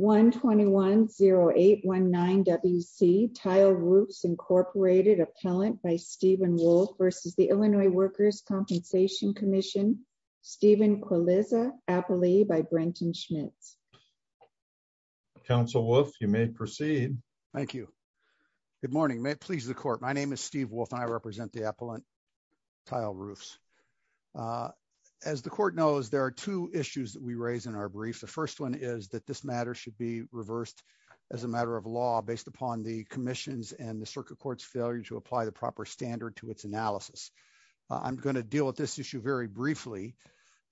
1210819WC, Tile Roofs, Inc, Appellant by Stephen Wolfe v. Illinois Workers' Compensation Comm'n, Stephen Quilizza, Appellee by Brenton Schmitz. Counsel Wolfe, you may proceed. Thank you. Good morning. May it please the Court, my name is Steve Wolfe and I represent the Appellant, Tile Roofs. As the Court knows, there are two issues that we raise in our brief. The first one is that this matter should be reversed as a matter of law based upon the Commission's and the Circuit Court's failure to apply the proper standard to its analysis. I'm going to deal with this issue very briefly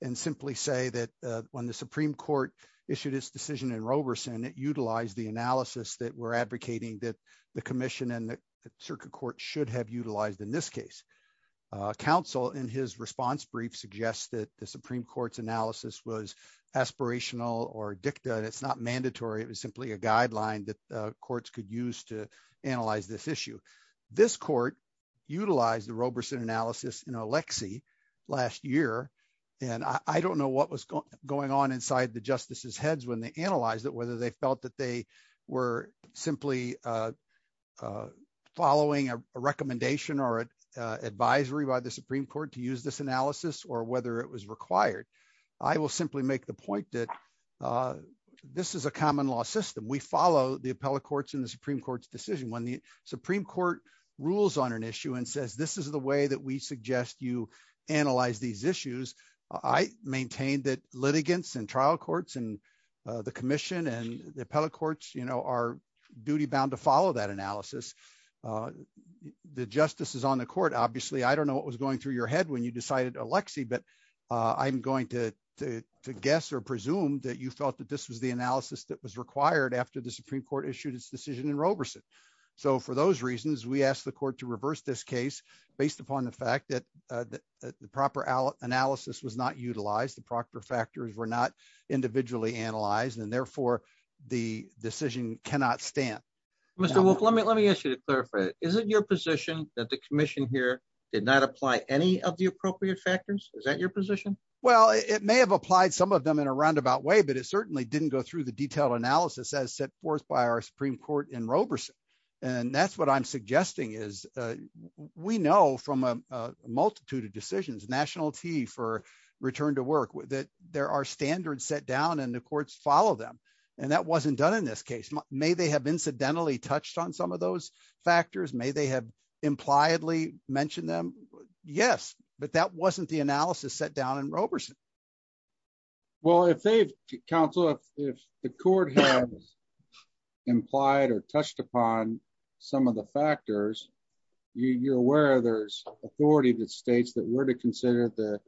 and simply say that when the Supreme Court issued its decision in Roberson, it utilized the analysis that we're advocating that the Commission and the Circuit Court should have utilized in this case. Counsel, in his response brief, suggested the Supreme Court's analysis was aspirational or dicta and it's not mandatory. It was simply a guideline that courts could use to analyze this issue. This Court utilized the Roberson analysis in Alexei last year and I don't know what was going on inside the justices' heads when they analyzed it, whether they felt that they were simply following a recommendation or an advisory by the Supreme Court to use this analysis or whether it was required. I will simply make the point that this is a common law system. We follow the Appellate Courts and the Supreme Court's decision. When the Supreme Court rules on an issue and says this is the way that we suggest you analyze these issues, I maintain that litigants and trial courts and the Commission and the Appellate Courts are duty-bound to follow that analysis. The justices on the court, obviously, I don't know what was going through your head when you decided Alexei, but I'm going to guess or presume that you felt that this was the analysis that was required after the Supreme Court issued its decision in Roberson. For those reasons, we asked the court to reverse this case based upon the fact that the proper analysis was not utilized, the proper factors were not individually analyzed, and therefore the decision cannot stand. Mr. Wolf, let me ask you to clarify. Is it your position that the Commission here did not apply any of the appropriate factors? Is that your position? Well, it may have applied some of them in a roundabout way, but it certainly didn't go through the detailed analysis as set forth by our Supreme Court in Roberson. And that's what I'm suggesting, is we know from a multitude of decisions, National T for return to work, that there are standards set down and the courts follow them, and that wasn't done in this case. May they have incidentally touched on some of those factors? May they have impliedly mentioned them? Yes, but that wasn't the analysis set down in Roberson. Well, if they've, counsel, if the court has implied or touched upon some of the factors, you're aware there's authority that states that we're to consider the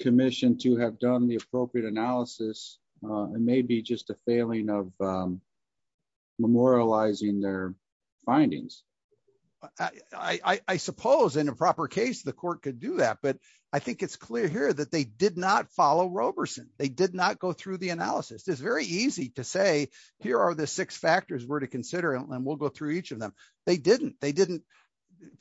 Commission to have done the appropriate analysis, and maybe just a failing of memorializing their findings. I suppose in a proper case, the court could do that. But I think it's clear here that they did not follow Roberson. They did not go through the analysis. It's very easy to say, here are the six factors we're to consider, and we'll go through each of them. They didn't. They didn't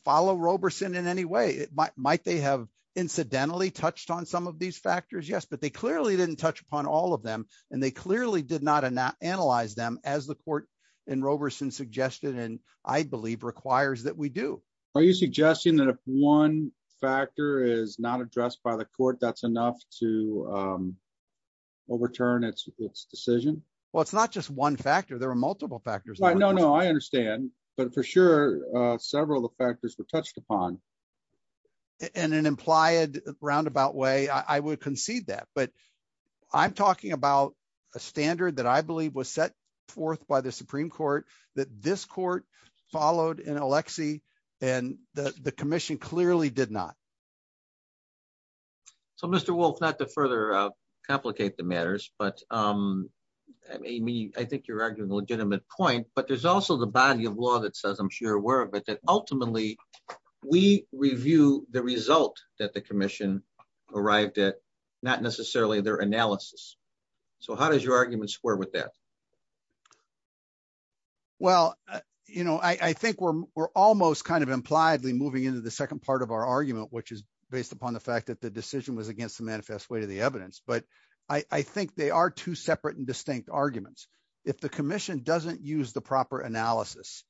follow Roberson in any way. Might they have incidentally touched on some of these factors? Yes, but they clearly didn't touch upon all of them, and they clearly did not analyze them as the court in Roberson suggested, and I believe requires that we do. Are you suggesting that if one factor is not addressed by the court, that's enough to overturn its decision? Well, it's not just one factor. There are multiple factors. No, no, I understand, but for sure, several of the factors were touched upon. In an implied roundabout way, I would concede that, but I'm talking about a standard that I believe was set forth by the Supreme Court that this court followed in Alexie, and the commission clearly did not. So, Mr. Wolf, not to further complicate the matters, but Amy, I think you're arguing a legitimate point, but there's also the body of law that says, I'm sure, we're aware of it, that ultimately we review the result that the commission arrived at, not necessarily their analysis. So, how does your argument square with that? Well, I think we're almost kind of impliedly moving into the second part of our argument, which is based upon the fact that the decision was against the manifest way to the evidence, but I think they are two separate and distinct arguments. If the commission doesn't use the proper analysis,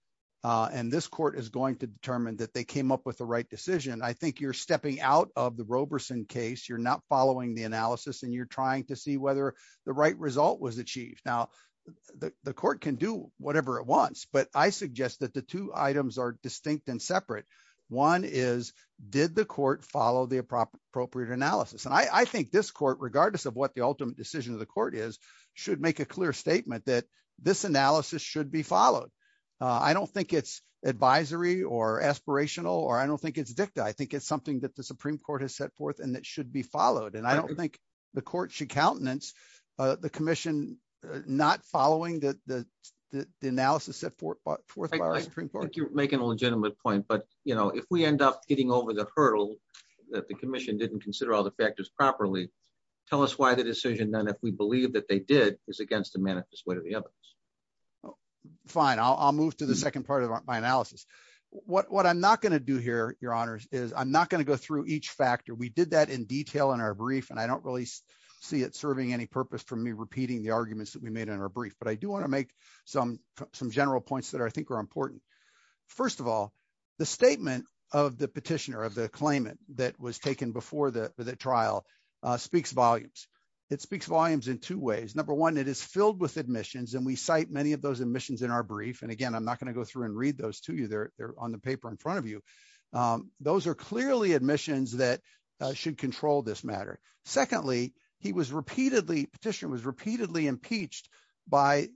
and this court is going to determine that they came up with the right decision, I think you're stepping out of the Roberson case. You're not following the analysis, and you're trying to see whether the right result was achieved. Now, the court can do whatever it wants, but I suggest that the two items are distinct and separate. One is, did the court follow the appropriate analysis? And I think this court, regardless of what the ultimate decision of the court is, should make a clear statement that this analysis should be followed. I don't think it's advisory or aspirational, or I don't think it's dicta. I think it's something that the Supreme Court has set forth and that should be followed, and I don't think the court should countenance the commission not following the analysis set forth by the Supreme Court. I think you're making a legitimate point, but if we end up getting over the hurdle that the commission didn't consider all the factors properly, tell us why the decision, then, if we believe that they did, is against the manifest way to the evidence. Fine. I'll move to the second part of my analysis. What I'm not going to do here, your honors, is I'm not going to go through each factor. We did that in detail in our brief, and I don't really see it serving any purpose for me repeating the arguments that we made in our brief, but I do want to make some general points that I think are important. First of all, the statement of the petitioner, of the claimant that was taken before the trial speaks volumes. It speaks volumes in two ways. Number one, it is filled with admissions, and we cite many of those admissions in our brief, and again, I'm not going to go through and read those to you. They're on the paper in front of you. Those are clearly admissions that should control this matter. Secondly, he was repeatedly, petitioner was repeatedly impeached by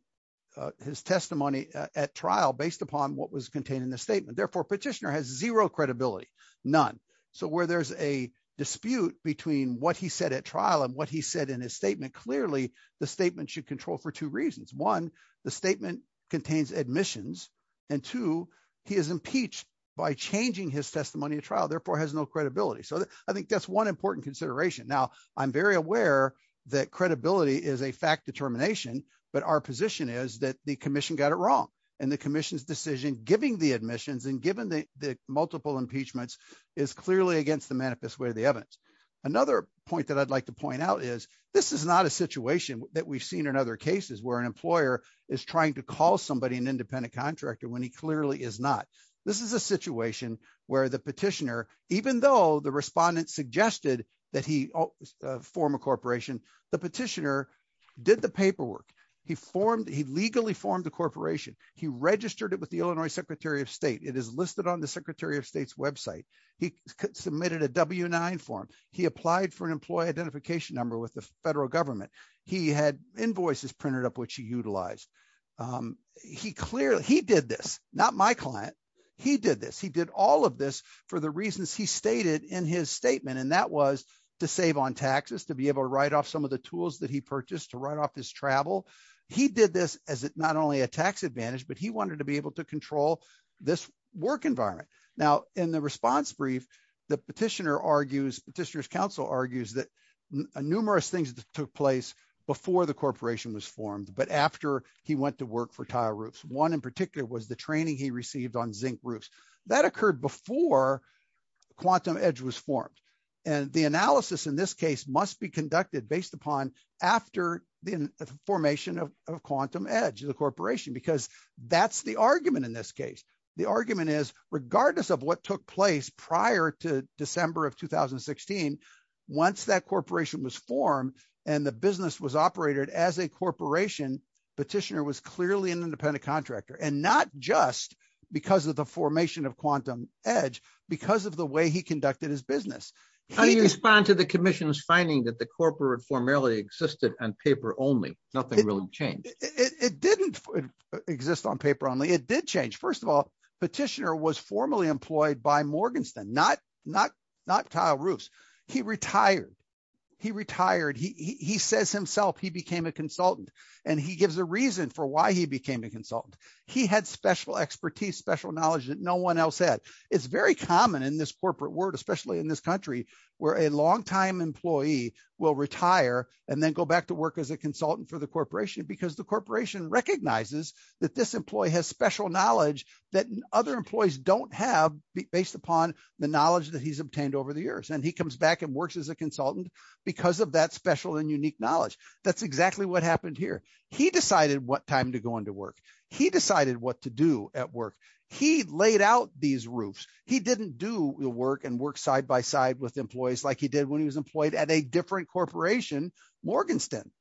his testimony at trial based upon what was contained in the statement. Therefore, petitioner has zero credibility, none. So where there's a dispute between what he said at trial and what he said in his statement, clearly, the statement should control for two reasons. One, the statement contains admissions, and two, he is impeached by changing his testimony at trial, therefore, has no credibility. So I think that's one important consideration. Now, I'm very aware that credibility is a fact determination, but our position is that the commission got it wrong, and the commission's decision giving the admissions and giving the multiple impeachments is clearly against the manifest way of the evidence. Another point that I'd like to point out is this is not a situation that we've seen in other cases where an employer is trying to haul somebody an independent contractor when he clearly is not. This is a situation where the petitioner, even though the respondent suggested that he form a corporation, the petitioner did the paperwork. He legally formed the corporation. He registered it with the Illinois Secretary of State. It is listed on the Secretary of State's website. He submitted a W-9 form. He applied for an employee identification number with the federal government. He had invoices printed up which he clearly, he did this, not my client. He did this. He did all of this for the reasons he stated in his statement, and that was to save on taxes, to be able to write off some of the tools that he purchased, to write off his travel. He did this as not only a tax advantage, but he wanted to be able to control this work environment. Now, in the response brief, the petitioner argues, petitioner's counsel argues that numerous things took place before the corporation was formed, but after he went to work for Tile Roofs. One in particular was the training he received on zinc roofs. That occurred before Quantum Edge was formed, and the analysis in this case must be conducted based upon after the formation of Quantum Edge, the corporation, because that's the argument in this case. The argument is, regardless of what took place prior to December of 2016, once that corporation was formed and the business was operated as a corporation, petitioner was clearly an independent contractor, and not just because of the formation of Quantum Edge, because of the way he conducted his business. How do you respond to the commission's finding that the corporate formality existed on paper only, nothing really changed? It didn't exist on paper only. It did change. First of all, petitioner was formally employed by Morgenstern, not Tile Roofs. He retired. He says himself he became a consultant, and he gives a reason for why he became a consultant. He had special expertise, special knowledge that no one else had. It's very common in this corporate world, especially in this country, where a long-time employee will retire and then go back to work as a consultant for the corporation because the corporation recognizes that this employee has special knowledge that other employees don't have based upon the knowledge that he's obtained over the years. He comes back and works as a consultant because of that special and unique knowledge. That's exactly what happened here. He decided what time to go into work. He decided what to do at work. He laid out these roofs. He didn't do the work and work side by side with employees like he did when he was employed at a different corporation, Morgenstern.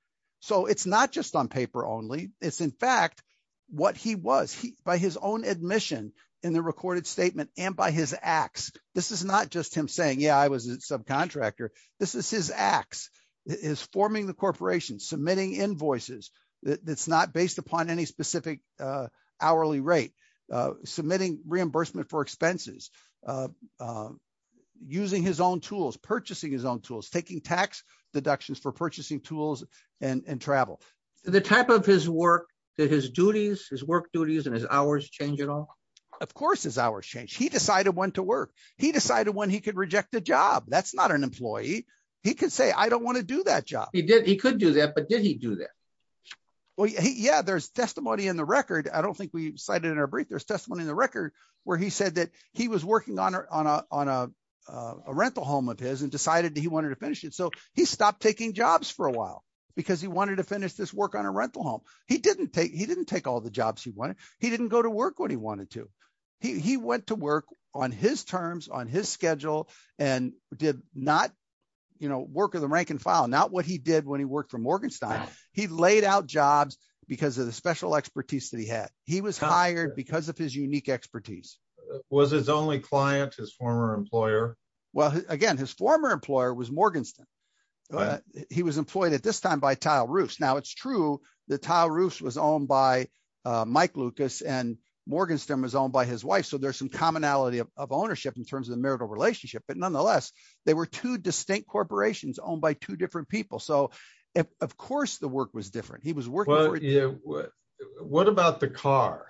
It's not just on paper only. It's in fact what he was. By his own admission in the recorded statement and by his acts, this is not just him saying, yeah, I was a subcontractor. This is his acts, his forming the corporation, submitting invoices that's not based upon any specific hourly rate, submitting reimbursement for expenses, using his own tools, purchasing his own tools, taking tax deductions for purchasing tools and travel. The type of his work that his duties, his work duties and his hours change at all? Of course his hours change. He decided when to work. He decided when he could reject the job. That's not an employee. He could say, I don't want to do that job. He did. He could do that, but did he do that? Well, yeah, there's testimony in the record. I don't think we cited in our brief. There's testimony in the record where he said that he was working on a rental home of his and decided that he wanted to finish it. So he stopped taking jobs for a while because he wanted to finish this work on a rental home. He didn't take, he didn't take all the jobs he wanted. He didn't go to work when he wanted to. He went to work on his terms, on his schedule and did not, you know, work of the rank and file. Not what he did when he worked for Morgenstein. He laid out jobs because of the special expertise that he had. He was hired because of his unique expertise. Was his only client, his former employer? Well, again, his former employer was Morgenstein. He was employed at this time by Tile Roofs. Now it's true that Tile Roofs was owned by Mike Lucas and Morgenstein was owned by his wife. So there's some commonality of ownership in terms of the marital relationship, but nonetheless, they were two distinct corporations owned by two different people. So of course the work was different. He was working. What about the car?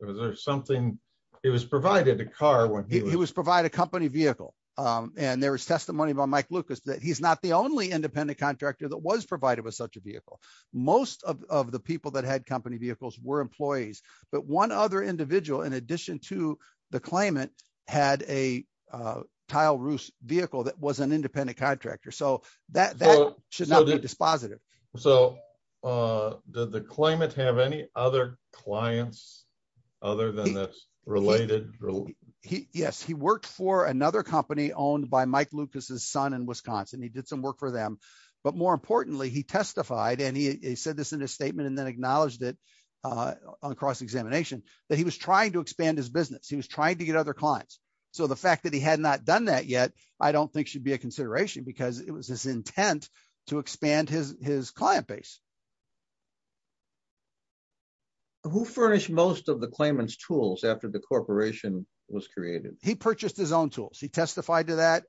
Was there something, he was provided a car when he was... He was provided a company vehicle. And there was testimony by Mike Lucas that he's not the only independent contractor that was provided with such a vehicle. Most of the people that had company vehicles were employees, but one other individual, in addition to the claimant, had a Tile Roofs vehicle that was an independent contractor. So that should not be dispositive. So did the claimant have any other clients other than that's related? Yes, he worked for another company owned by Mike Lucas's son in Wisconsin. He did some work for them, but more importantly, he testified and he said this in his statement and then acknowledged it on cross-examination that he was trying to expand his business. He was trying to get other clients. So the fact that he had not done that yet, I don't think should be a consideration because it was his intent to expand his client base. Who furnished most of the claimant's tools after the corporation was created? He purchased his own tools. He testified to that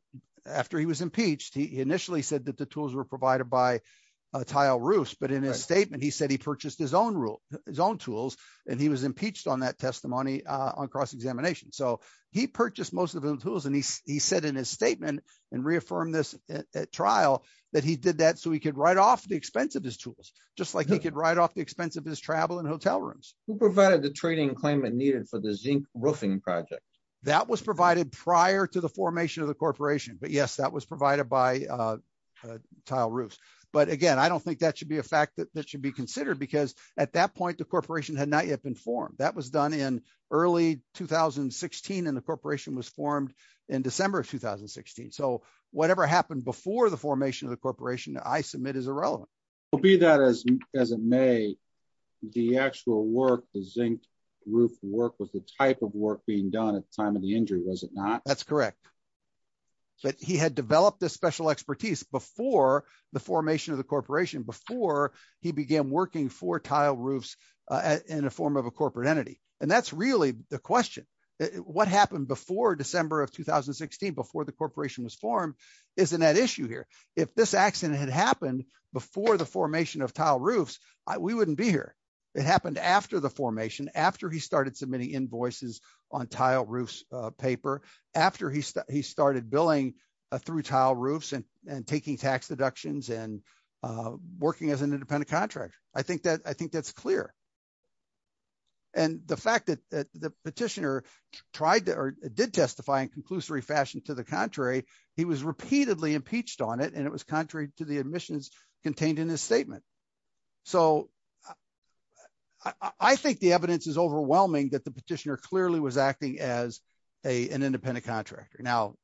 after he was impeached. He initially said that the tools were provided by Tile Roofs, but in his statement, he said he purchased his own tools and he was impeached on that testimony on cross-examination. So he purchased most of the tools and he said in his statement and reaffirmed this at trial that he did that so he could write off the expense of his travel and hotel rooms. Who provided the trading claimant needed for the zinc roofing project? That was provided prior to the formation of the corporation, but yes, that was provided by Tile Roofs. But again, I don't think that should be a fact that should be considered because at that point, the corporation had not yet been formed. That was done in early 2016 and the corporation was formed in December of 2016. So whatever happened before the formation of the the actual work, the zinc roof work was the type of work being done at the time of the injury, was it not? That's correct. But he had developed this special expertise before the formation of the corporation, before he began working for Tile Roofs in a form of a corporate entity. And that's really the question. What happened before December of 2016, before the corporation was formed, isn't at issue here. If this accident had happened before the formation of Tile Roofs, we wouldn't be here. It happened after the formation, after he started submitting invoices on Tile Roofs paper, after he started billing through Tile Roofs and taking tax deductions and working as an independent contractor. I think that's clear. And the fact that the petitioner tried to or did testify in conclusory fashion to the contrary, he was repeatedly impeached on it and it was contrary to the admissions contained in his statement. So I think the evidence is overwhelming that the petitioner clearly was acting as an independent contractor. Now,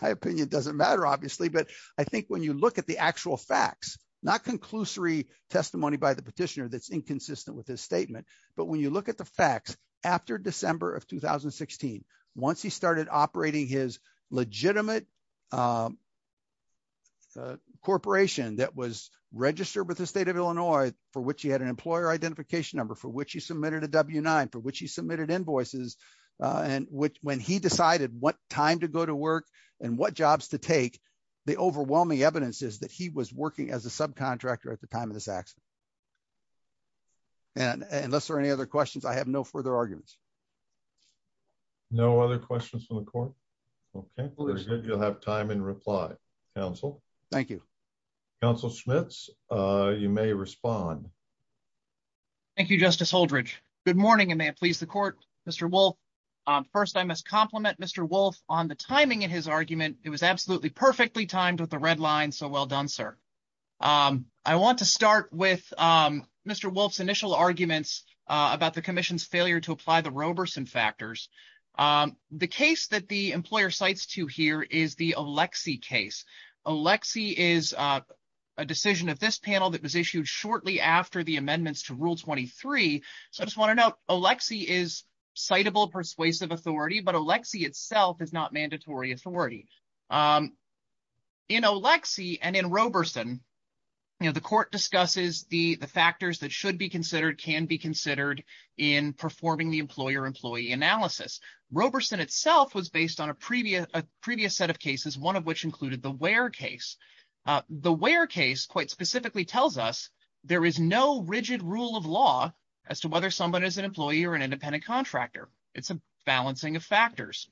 my opinion doesn't matter, obviously, but I think when you look at the actual facts, not conclusory testimony by the petitioner that's inconsistent with his statement, but when you look at the facts after December of 2016, once he started operating his legitimate corporation that was registered with the state of Illinois, for which he had an employer identification number, for which he submitted a W-9, for which he submitted invoices, and when he decided what time to go to work and what jobs to take, the overwhelming evidence is that he was working as a subcontractor at the time of this accident. And unless there are any other questions, I have no further arguments. No other questions from the court? Okay, good. You'll have time in reply. Council. Thank you. Council Schmitz, you may respond. Thank you, Justice Holdredge. Good morning, and may it please the court, Mr. Wolfe. First, I must compliment Mr. Wolfe on the timing in his argument. It was absolutely perfectly timed with the red line. So well done, sir. I want to start with Mr. Wolfe's initial arguments about the Roberson factors. The case that the employer cites to here is the Oleksii case. Oleksii is a decision of this panel that was issued shortly after the amendments to Rule 23. So I just want to note, Oleksii is citable persuasive authority, but Oleksii itself is not mandatory authority. In Oleksii and in Roberson, you know, the court discusses the analysis. Roberson itself was based on a previous set of cases, one of which included the Ware case. The Ware case quite specifically tells us there is no rigid rule of law as to whether someone is an employee or an independent contractor. It's a balancing of factors.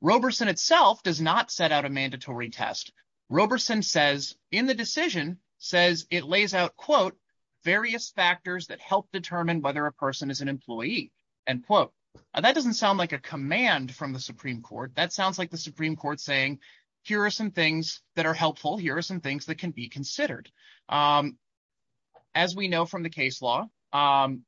Roberson itself does not set out a mandatory test. Roberson says in the decision says it lays out, quote, various factors that help determine whether a person is an employee, end quote. That doesn't sound like a command from the Supreme Court. That sounds like the Supreme Court saying, here are some things that are helpful. Here are some things that can be considered. As we know from the case law, and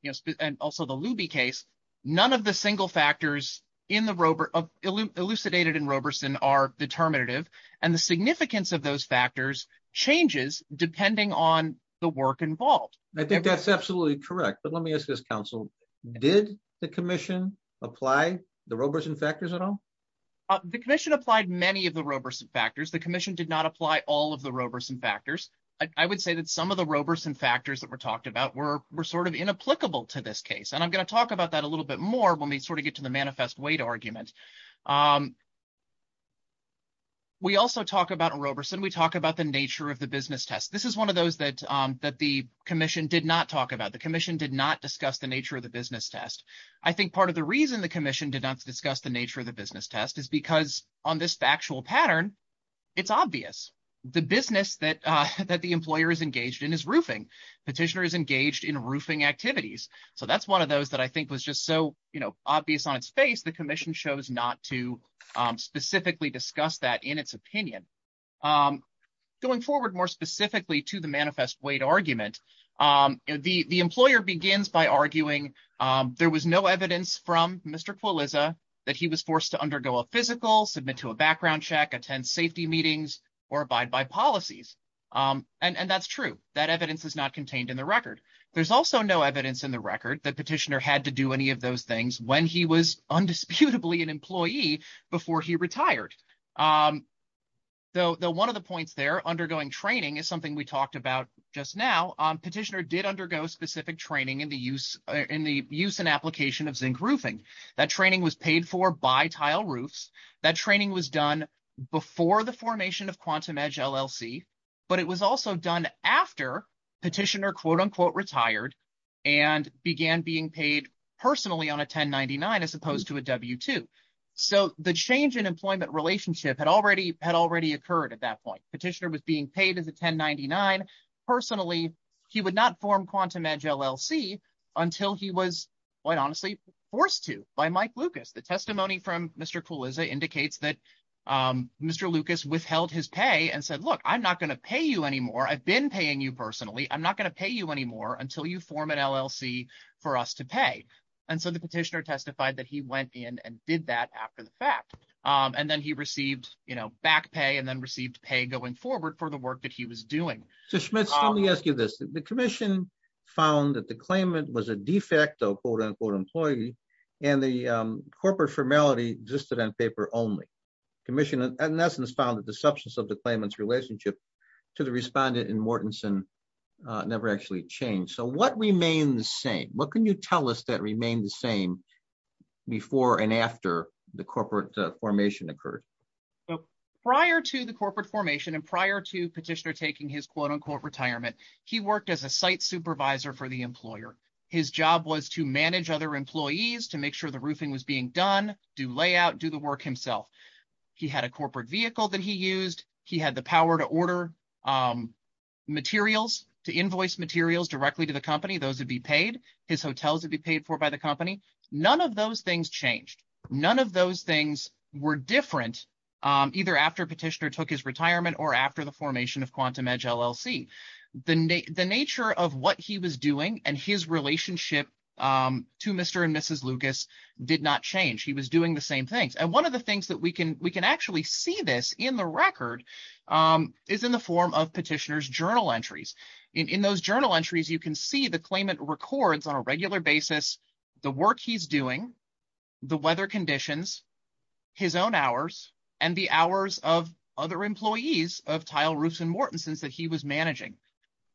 also the Luby case, none of the single factors elucidated in Roberson are determinative, and the significance of those factors changes depending on the work involved. I think that's absolutely correct, but let me ask this, counsel. Did the commission apply the Roberson factors at all? The commission applied many of the Roberson factors. The commission did not apply all of the Roberson factors. I would say that some of the Roberson factors that were talked about were sort of inapplicable to this case, and I'm going to talk about that a little bit more when we sort of get to the manifest weight argument. We also talk about Roberson, we talk about the nature of the business test. This is one of those that the commission did not talk about. The commission did not discuss the nature of the business test. I think part of the reason the commission did not discuss the nature of the business test is because on this factual pattern, it's obvious. The business that the employer is engaged in is roofing. Petitioner is engaged in roofing activities. So that's one of those that I think was just so, you know, obvious on its face. The commission chose not to specifically discuss that in its opinion. Going forward more specifically to the manifest weight argument, the employer begins by arguing there was no evidence from Mr. Kwaliza that he was forced to undergo a physical, submit to a background check, attend safety meetings, or abide by policies. And that's true. That evidence is not contained in the record. There's also no evidence in the record that petitioner had to do any of those things when he was undisputably an employee before he retired. Though one of the points there, undergoing training is something we talked about just now. Petitioner did undergo specific training in the use in the use and application of zinc roofing. That training was paid for by Tile Roofs. That training was done before the formation of Quantum Edge LLC, but it was also done after petitioner quote unquote retired and began being paid personally on a 1099 as opposed to a W2. So the change in employment relationship had already occurred at that point. Petitioner was being paid as a 1099. Personally, he would not form Quantum Edge LLC until he was quite honestly forced to by Mike Lucas. The testimony from Mr. Kwaliza indicates that Mr. Lucas withheld his pay and said, look, I'm not going to pay you anymore. I've been paying you personally. I'm not going to pay you anymore until you form an LLC for us to pay. And so the petitioner testified that he went in and did that after the fact. And then he received back pay and then received pay going forward for the work that he was doing. So Schmitz, let me ask you this. The commission found that the claimant was a de facto quote unquote employee and the corporate formality existed on paper only. Commission in essence found that the substance of the claimant's relationship to the respondent in Mortenson never actually changed. So what remained the same? What can you tell us that remained the same before and after the corporate formation occurred? Prior to the corporate formation and prior to petitioner taking his quote unquote retirement, he worked as a site supervisor for the employer. His job was to manage other employees, to make sure the roofing was being done, do layout, do the work himself. He had a corporate vehicle that he used. He had the power to order materials, to invoice materials directly to the company. Those would be paid. His hotels would be paid for by the company. None of those things changed. None of those things were different either after petitioner took his retirement or after the formation of Quantum Edge LLC. The nature of what he was doing and his relationship to Mr. and Mrs. Lucas did not change. He was doing the same things. And one of the things that we can actually see this in the petitioner's journal entries. In those journal entries, you can see the claimant records on a regular basis, the work he's doing, the weather conditions, his own hours, and the hours of other employees of Tile, Roofs, and Mortenson's that he was managing.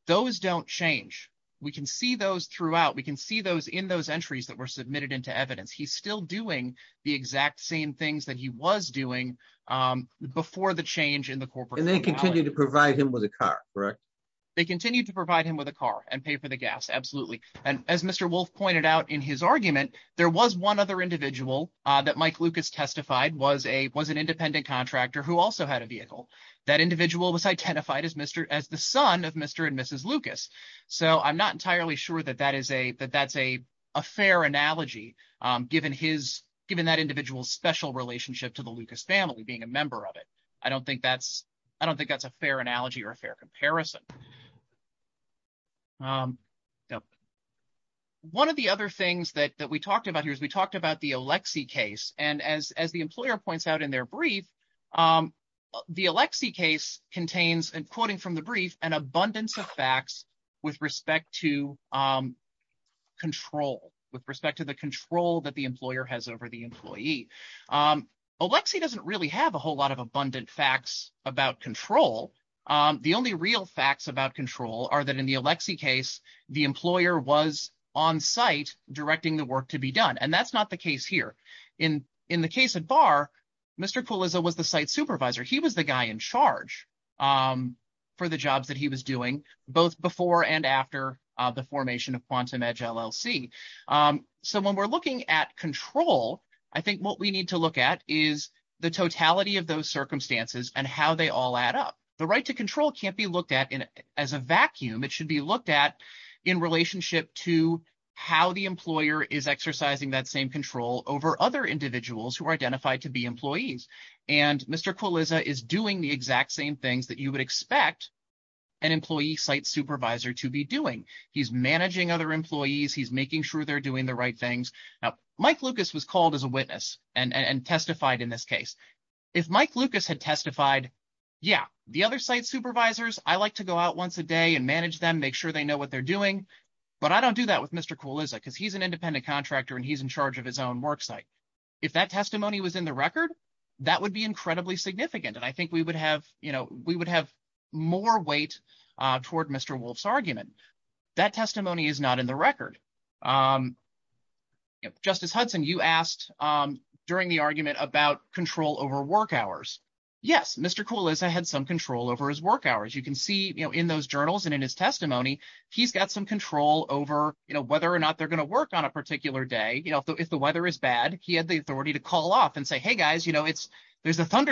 Those don't change. We can see those throughout. We can see those in those entries that were submitted into evidence. He's still doing the exact same things that he was doing before the change in the corporate- to provide him with a car, correct? They continue to provide him with a car and pay for the gas, absolutely. And as Mr. Wolf pointed out in his argument, there was one other individual that Mike Lucas testified was an independent contractor who also had a vehicle. That individual was identified as the son of Mr. and Mrs. Lucas. So I'm not entirely sure that that's a fair analogy given that individual's special relationship to the Lucas family being a member of it. I don't think that's a fair analogy or a fair comparison. One of the other things that we talked about here is we talked about the Alexie case. And as the employer points out in their brief, the Alexie case contains, and quoting from the brief, an abundance of facts with respect to control, with respect to the control that the employer has over the employee. Alexie doesn't really have a whole lot of abundant facts about control. The only real facts about control are that in the Alexie case, the employer was on-site directing the work to be done. And that's not the case here. In the case at Barr, Mr. Kuliza was the site supervisor. He was the guy in charge for the jobs that he was doing, both before and after the case. So if we're looking at control, I think what we need to look at is the totality of those circumstances and how they all add up. The right to control can't be looked at as a vacuum. It should be looked at in relationship to how the employer is exercising that same control over other individuals who are identified to be employees. And Mr. Kuliza is doing the exact same things that you would expect an employee site supervisor to be doing. He's managing other employees. He's making sure they're doing the right things. Now, Mike Lucas was called as a witness and testified in this case. If Mike Lucas had testified, yeah, the other site supervisors, I like to go out once a day and manage them, make sure they know what they're doing. But I don't do that with Mr. Kuliza because he's an independent contractor and he's in charge of his own work site. If that testimony was in the record, that would be incredibly significant. And I think we would have more weight toward Mr. Wolf's argument. That testimony is not in the record. Justice Hudson, you asked during the argument about control over work hours. Yes, Mr. Kuliza had some control over his work hours. You can see in those journals and in his testimony, he's got some control over whether or not they're going to work on a particular day. If the weather is bad, he had the authority to call off and say, hey, guys, there's a kind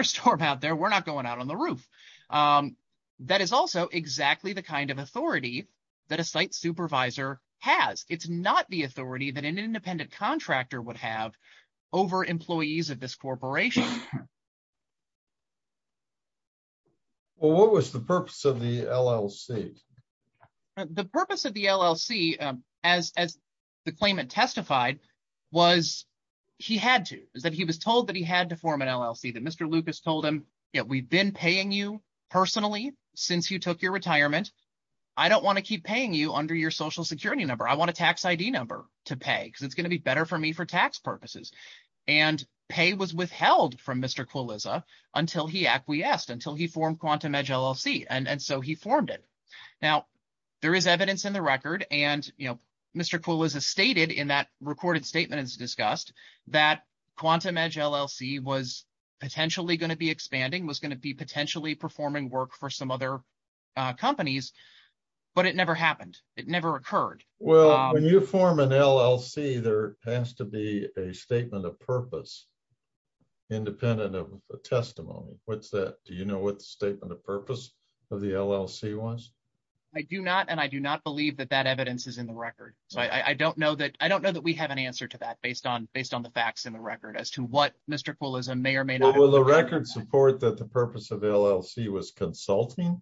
of authority that a site supervisor has. It's not the authority that an independent contractor would have over employees of this corporation. Well, what was the purpose of the LLC? The purpose of the LLC, as the claimant testified, was he had to, is that he was told that he had to form an LLC, that Mr. Lucas told him, we've been paying you personally since you took your retirement. I don't want to keep paying you under your social security number. I want a tax ID number to pay because it's going to be better for me for tax purposes. And pay was withheld from Mr. Kuliza until he acquiesced, until he formed QuantumEdge LLC. And so he formed it. Now, there is evidence in the record and Mr. Kuliza stated in that recorded statement as discussed that QuantumEdge LLC was potentially going to be expanding, was going to be potentially performing work for some other companies, but it never happened. It never occurred. Well, when you form an LLC, there has to be a statement of purpose, independent of a testimony. What's that? Do you know what the statement of purpose of the LLC was? I do not. And I do not believe that that evidence is in the record. So I don't know that we have an answer to that based on the facts in the record as to what Mr. Kuliza may or may not have done. Will the record support that the purpose of the LLC was consulting?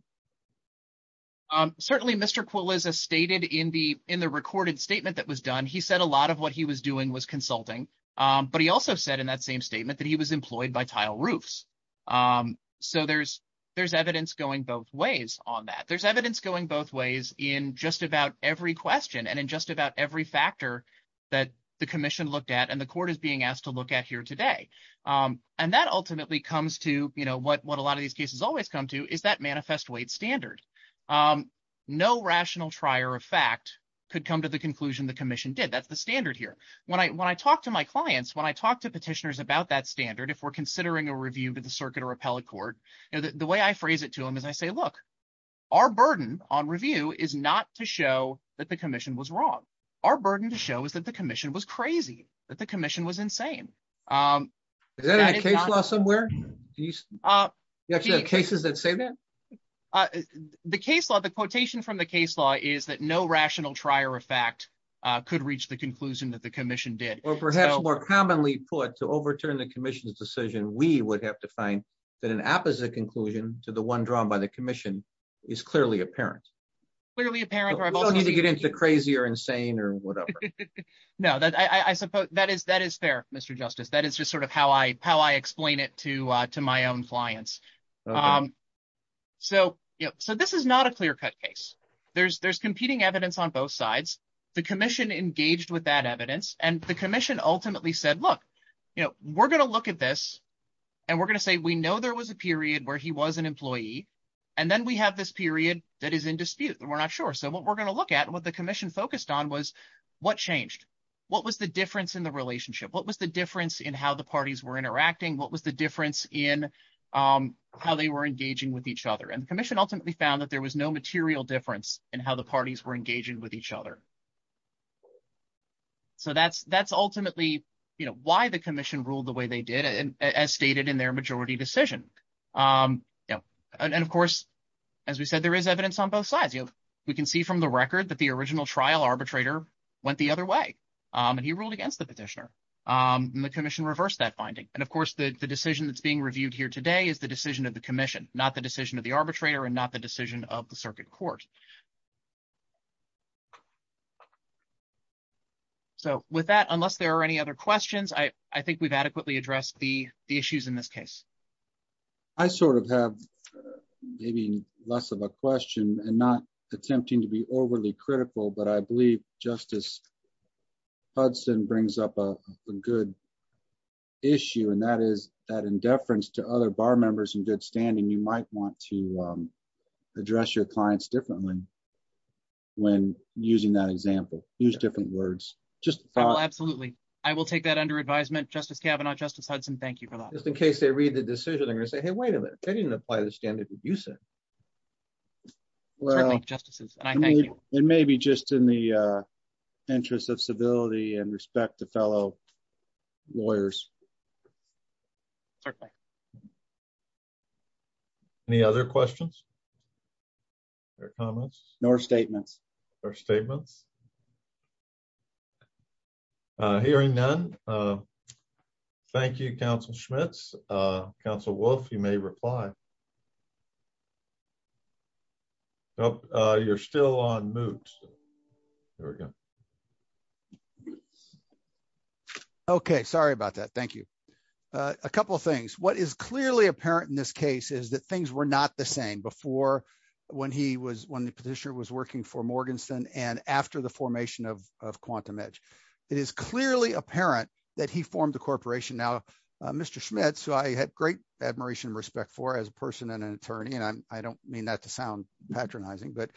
Certainly, Mr. Kuliza stated in the recorded statement that was done, he said a lot of what he was doing was consulting. But he also said in that same statement that he was employed by Tile Roofs. So there's evidence going both ways on that. There's evidence going both ways in just about every question and in just about every factor that the commission looked at and the court is being asked to look at here today. And that ultimately comes to what a lot of these cases always come to is that manifest weight standard. No rational trier of fact could come to the conclusion the commission did. That's the standard here. When I talk to my clients, when I talk to petitioners about that standard, if we're considering a review to the circuit or appellate court, the way I phrase it to them is I say, look, our burden on review is not to show that the commission was crazy, that the commission was insane. Is that in a case law somewhere? You actually have cases that say that? The case law, the quotation from the case law is that no rational trier of fact could reach the conclusion that the commission did. Or perhaps more commonly put, to overturn the commission's decision, we would have to find that an opposite conclusion to the one drawn by the commission is clearly apparent. Clearly apparent. We don't need to crazy or insane or whatever. No, I suppose that is fair, Mr. Justice. That is just sort of how I explain it to my own clients. So this is not a clear-cut case. There's competing evidence on both sides. The commission engaged with that evidence and the commission ultimately said, look, we're going to look at this and we're going to say we know there was a period where he was an employee and then we have this period that is in dispute and we're not sure. So what we're going to look at and what the commission focused on was what changed? What was the difference in the relationship? What was the difference in how the parties were interacting? What was the difference in how they were engaging with each other? And the commission ultimately found that there was no material difference in how the parties were engaging with each other. So that's ultimately why the commission ruled the way they did, as stated in their majority decision. And, of course, as we said, there is evidence on both sides. We can see from the record that the original trial arbitrator went the other way and he ruled against the petitioner and the commission reversed that finding. And, of course, the decision that's being reviewed here today is the decision of the commission, not the decision of the arbitrator and not the decision of the circuit court. So with that, unless there are any other questions, I think we've adequately addressed the issues in this case. I sort of have maybe less of a question and not attempting to be overly critical, but I believe Justice Hudson brings up a good issue, and that is that in deference to other bar members in good standing, you might want to address your clients differently when using that example. Use different words. Absolutely. I will take that under advisement, Justice Kavanaugh. Justice Hudson, thank you for that. Just in case they read the decision, they're going to say, hey, wait a minute, they didn't apply the standard that you said. Well, justices, it may be just in the interest of civility and respect to fellow lawyers. Certainly. Any other questions or comments or statements or statements? Hearing none. Thank you, Council Schmitz. Council Wolf, you may reply. Oh, you're still on mute. There we go. Okay. Sorry about that. Thank you. A couple of things. What is clearly apparent in this case is that things were not the same before when he was, when the petitioner was working for Quantum Edge. It is clearly apparent that he formed the corporation. Now, Mr. Schmitz, who I had great admiration and respect for as a person and an attorney, and I don't mean that to sound patronizing, but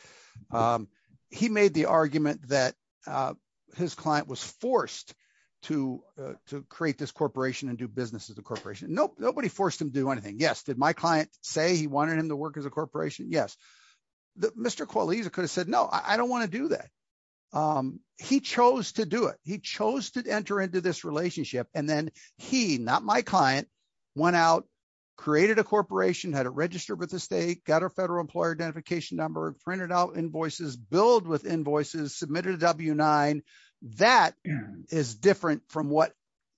he made the argument that his client was forced to create this corporation and do business as a corporation. Nope. Nobody forced him to do anything. Yes. Did my client say he wanted him to work as a corporation? Yes. Mr. Qualiza could have said, no, I don't want to do that. He chose to do it. He chose to enter into this relationship, and then he, not my client, went out, created a corporation, had it registered with the state, got her federal employer identification number, printed out invoices, billed with invoices, submitted a W-9. That is different from what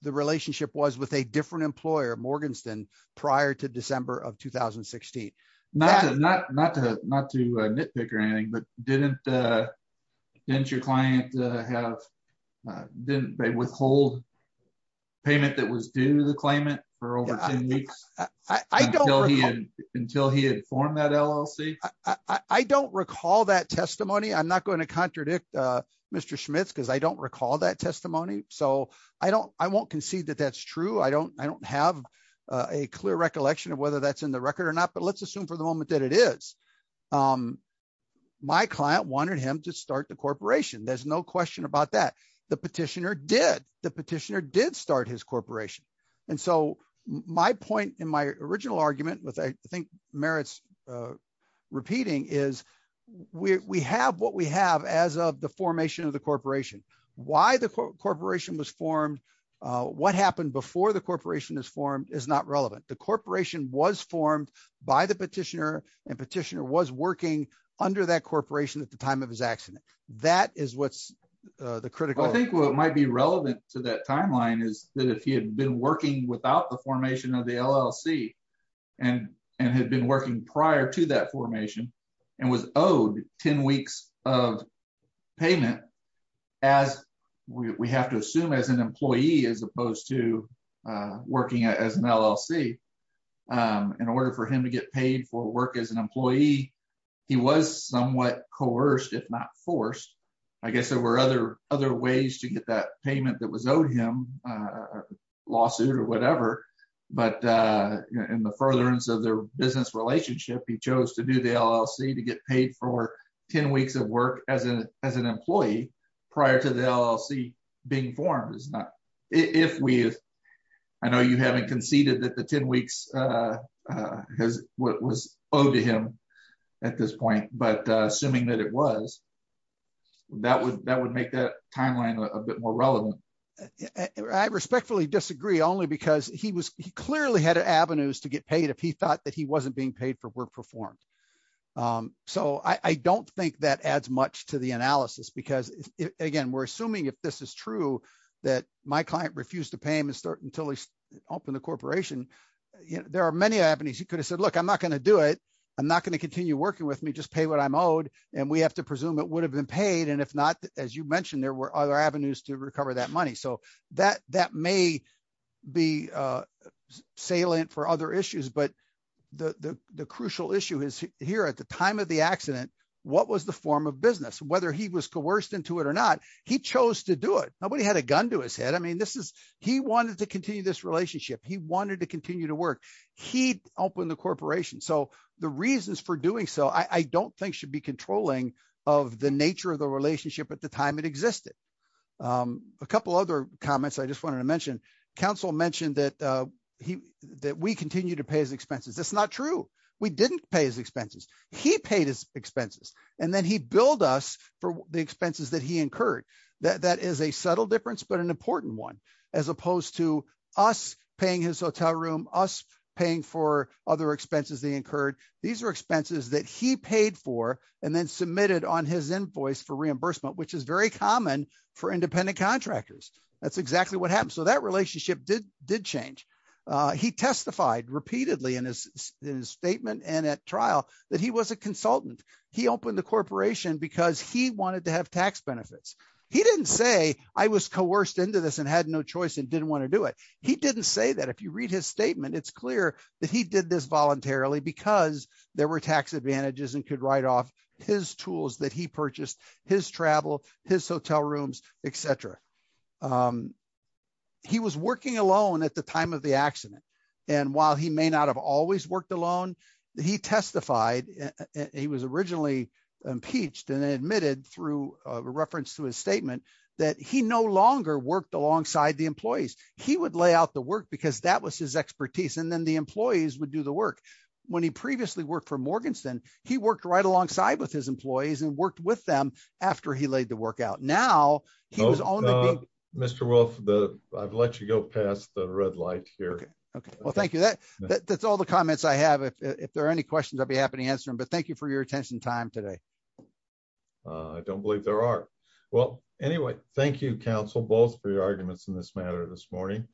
the relationship was with a different employer, Morganston, prior to December of 2016. Not to nitpick or anything, but didn't your client withhold payment that was due to the claimant for over 10 weeks until he had formed that LLC? I don't recall that testimony. I'm not going to contradict Mr. Schmitz because I don't recall that testimony, so I won't concede that that's true. I don't have a clear recollection of whether that's in the record or not, but let's assume for the moment that it is. My client wanted him to start the corporation. There's no question about that. The petitioner did. The petitioner did start his corporation. My point in my original argument, which I think merits repeating, is we have what we have as of the formation of the corporation. Why the corporation was formed, what happened before the corporation was formed is not relevant. The corporation was formed by the petitioner and petitioner was working under that corporation at the time of his accident. That is what's the critical. I think what might be relevant to that timeline is that if he had been working without the formation of the LLC and had been working prior to that formation and was owed 10 weeks of payment as we have to assume as an employee in order for him to get paid for work as an employee, he was somewhat coerced, if not forced. I guess there were other ways to get that payment that was owed him, a lawsuit or whatever, but in the furtherance of their business relationship, he chose to do the LLC to get paid for 10 weeks of work as an employee prior to the LLC being formed. I know you haven't conceded that the 10 weeks was owed to him at this point, but assuming that it was, that would make that timeline a bit more relevant. I respectfully disagree, only because he clearly had avenues to get paid if he thought that he wasn't being paid for work performed. I don't think that adds much to the analysis because, again, we're assuming if this is true that my client refused to pay him until he opened the corporation, there are many avenues. He could have said, look, I'm not going to do it, I'm not going to continue working with me, just pay what I'm owed, and we have to presume it would have been paid, and if not, as you mentioned, there were other avenues to recover that money. That may be salient for other issues, but the crucial issue is here at the time of the accident, what was the form of business? Whether he was coerced into it or not, he chose to do it. Nobody had a gun to his head. He wanted to continue this relationship. He wanted to continue to work. He opened the corporation, so the reasons for doing so I don't think should be controlling of the nature of the relationship at the time it existed. A couple other comments I just wanted to mention. Counsel mentioned that we continue to pay his expenses. That's not true. We didn't pay his expenses. He paid his expenses, and then he billed us for the expenses that he incurred. That is a subtle difference, but an important one, as opposed to us paying his hotel room, us paying for other expenses they incurred. These are expenses that he paid for and then submitted on his invoice for reimbursement, which is very common for independent contractors. That's exactly what happened, so that relationship did change. He testified repeatedly in his statement and at trial that he was a consultant. He opened the corporation because he wanted to have tax benefits. He didn't say, I was coerced into this and had no choice and didn't want to do it. He didn't say that. If you read his statement, it's clear that he did this voluntarily because there were tax advantages and could write off his tools that he purchased, his travel, his hotel rooms, etc. He was working alone at the time of the accident, and while he may not have always worked alone, he testified. He was originally impeached and admitted through a reference to his statement that he no longer worked alongside the employees. He would lay out the work because that was his expertise, and then the employees would do the work. When he previously worked for Morganston, he worked right alongside with his employees and worked with them after he laid the work out. Now, he was only... Mr. Wolf, I've let you go past the red light here. Okay. Well, thank you. That's all the comments I have. If there are any questions, I'll be happy to answer them, but thank you for your attention time today. I don't believe there are. Well, anyway, thank you, counsel, both for your arguments in this matter this morning.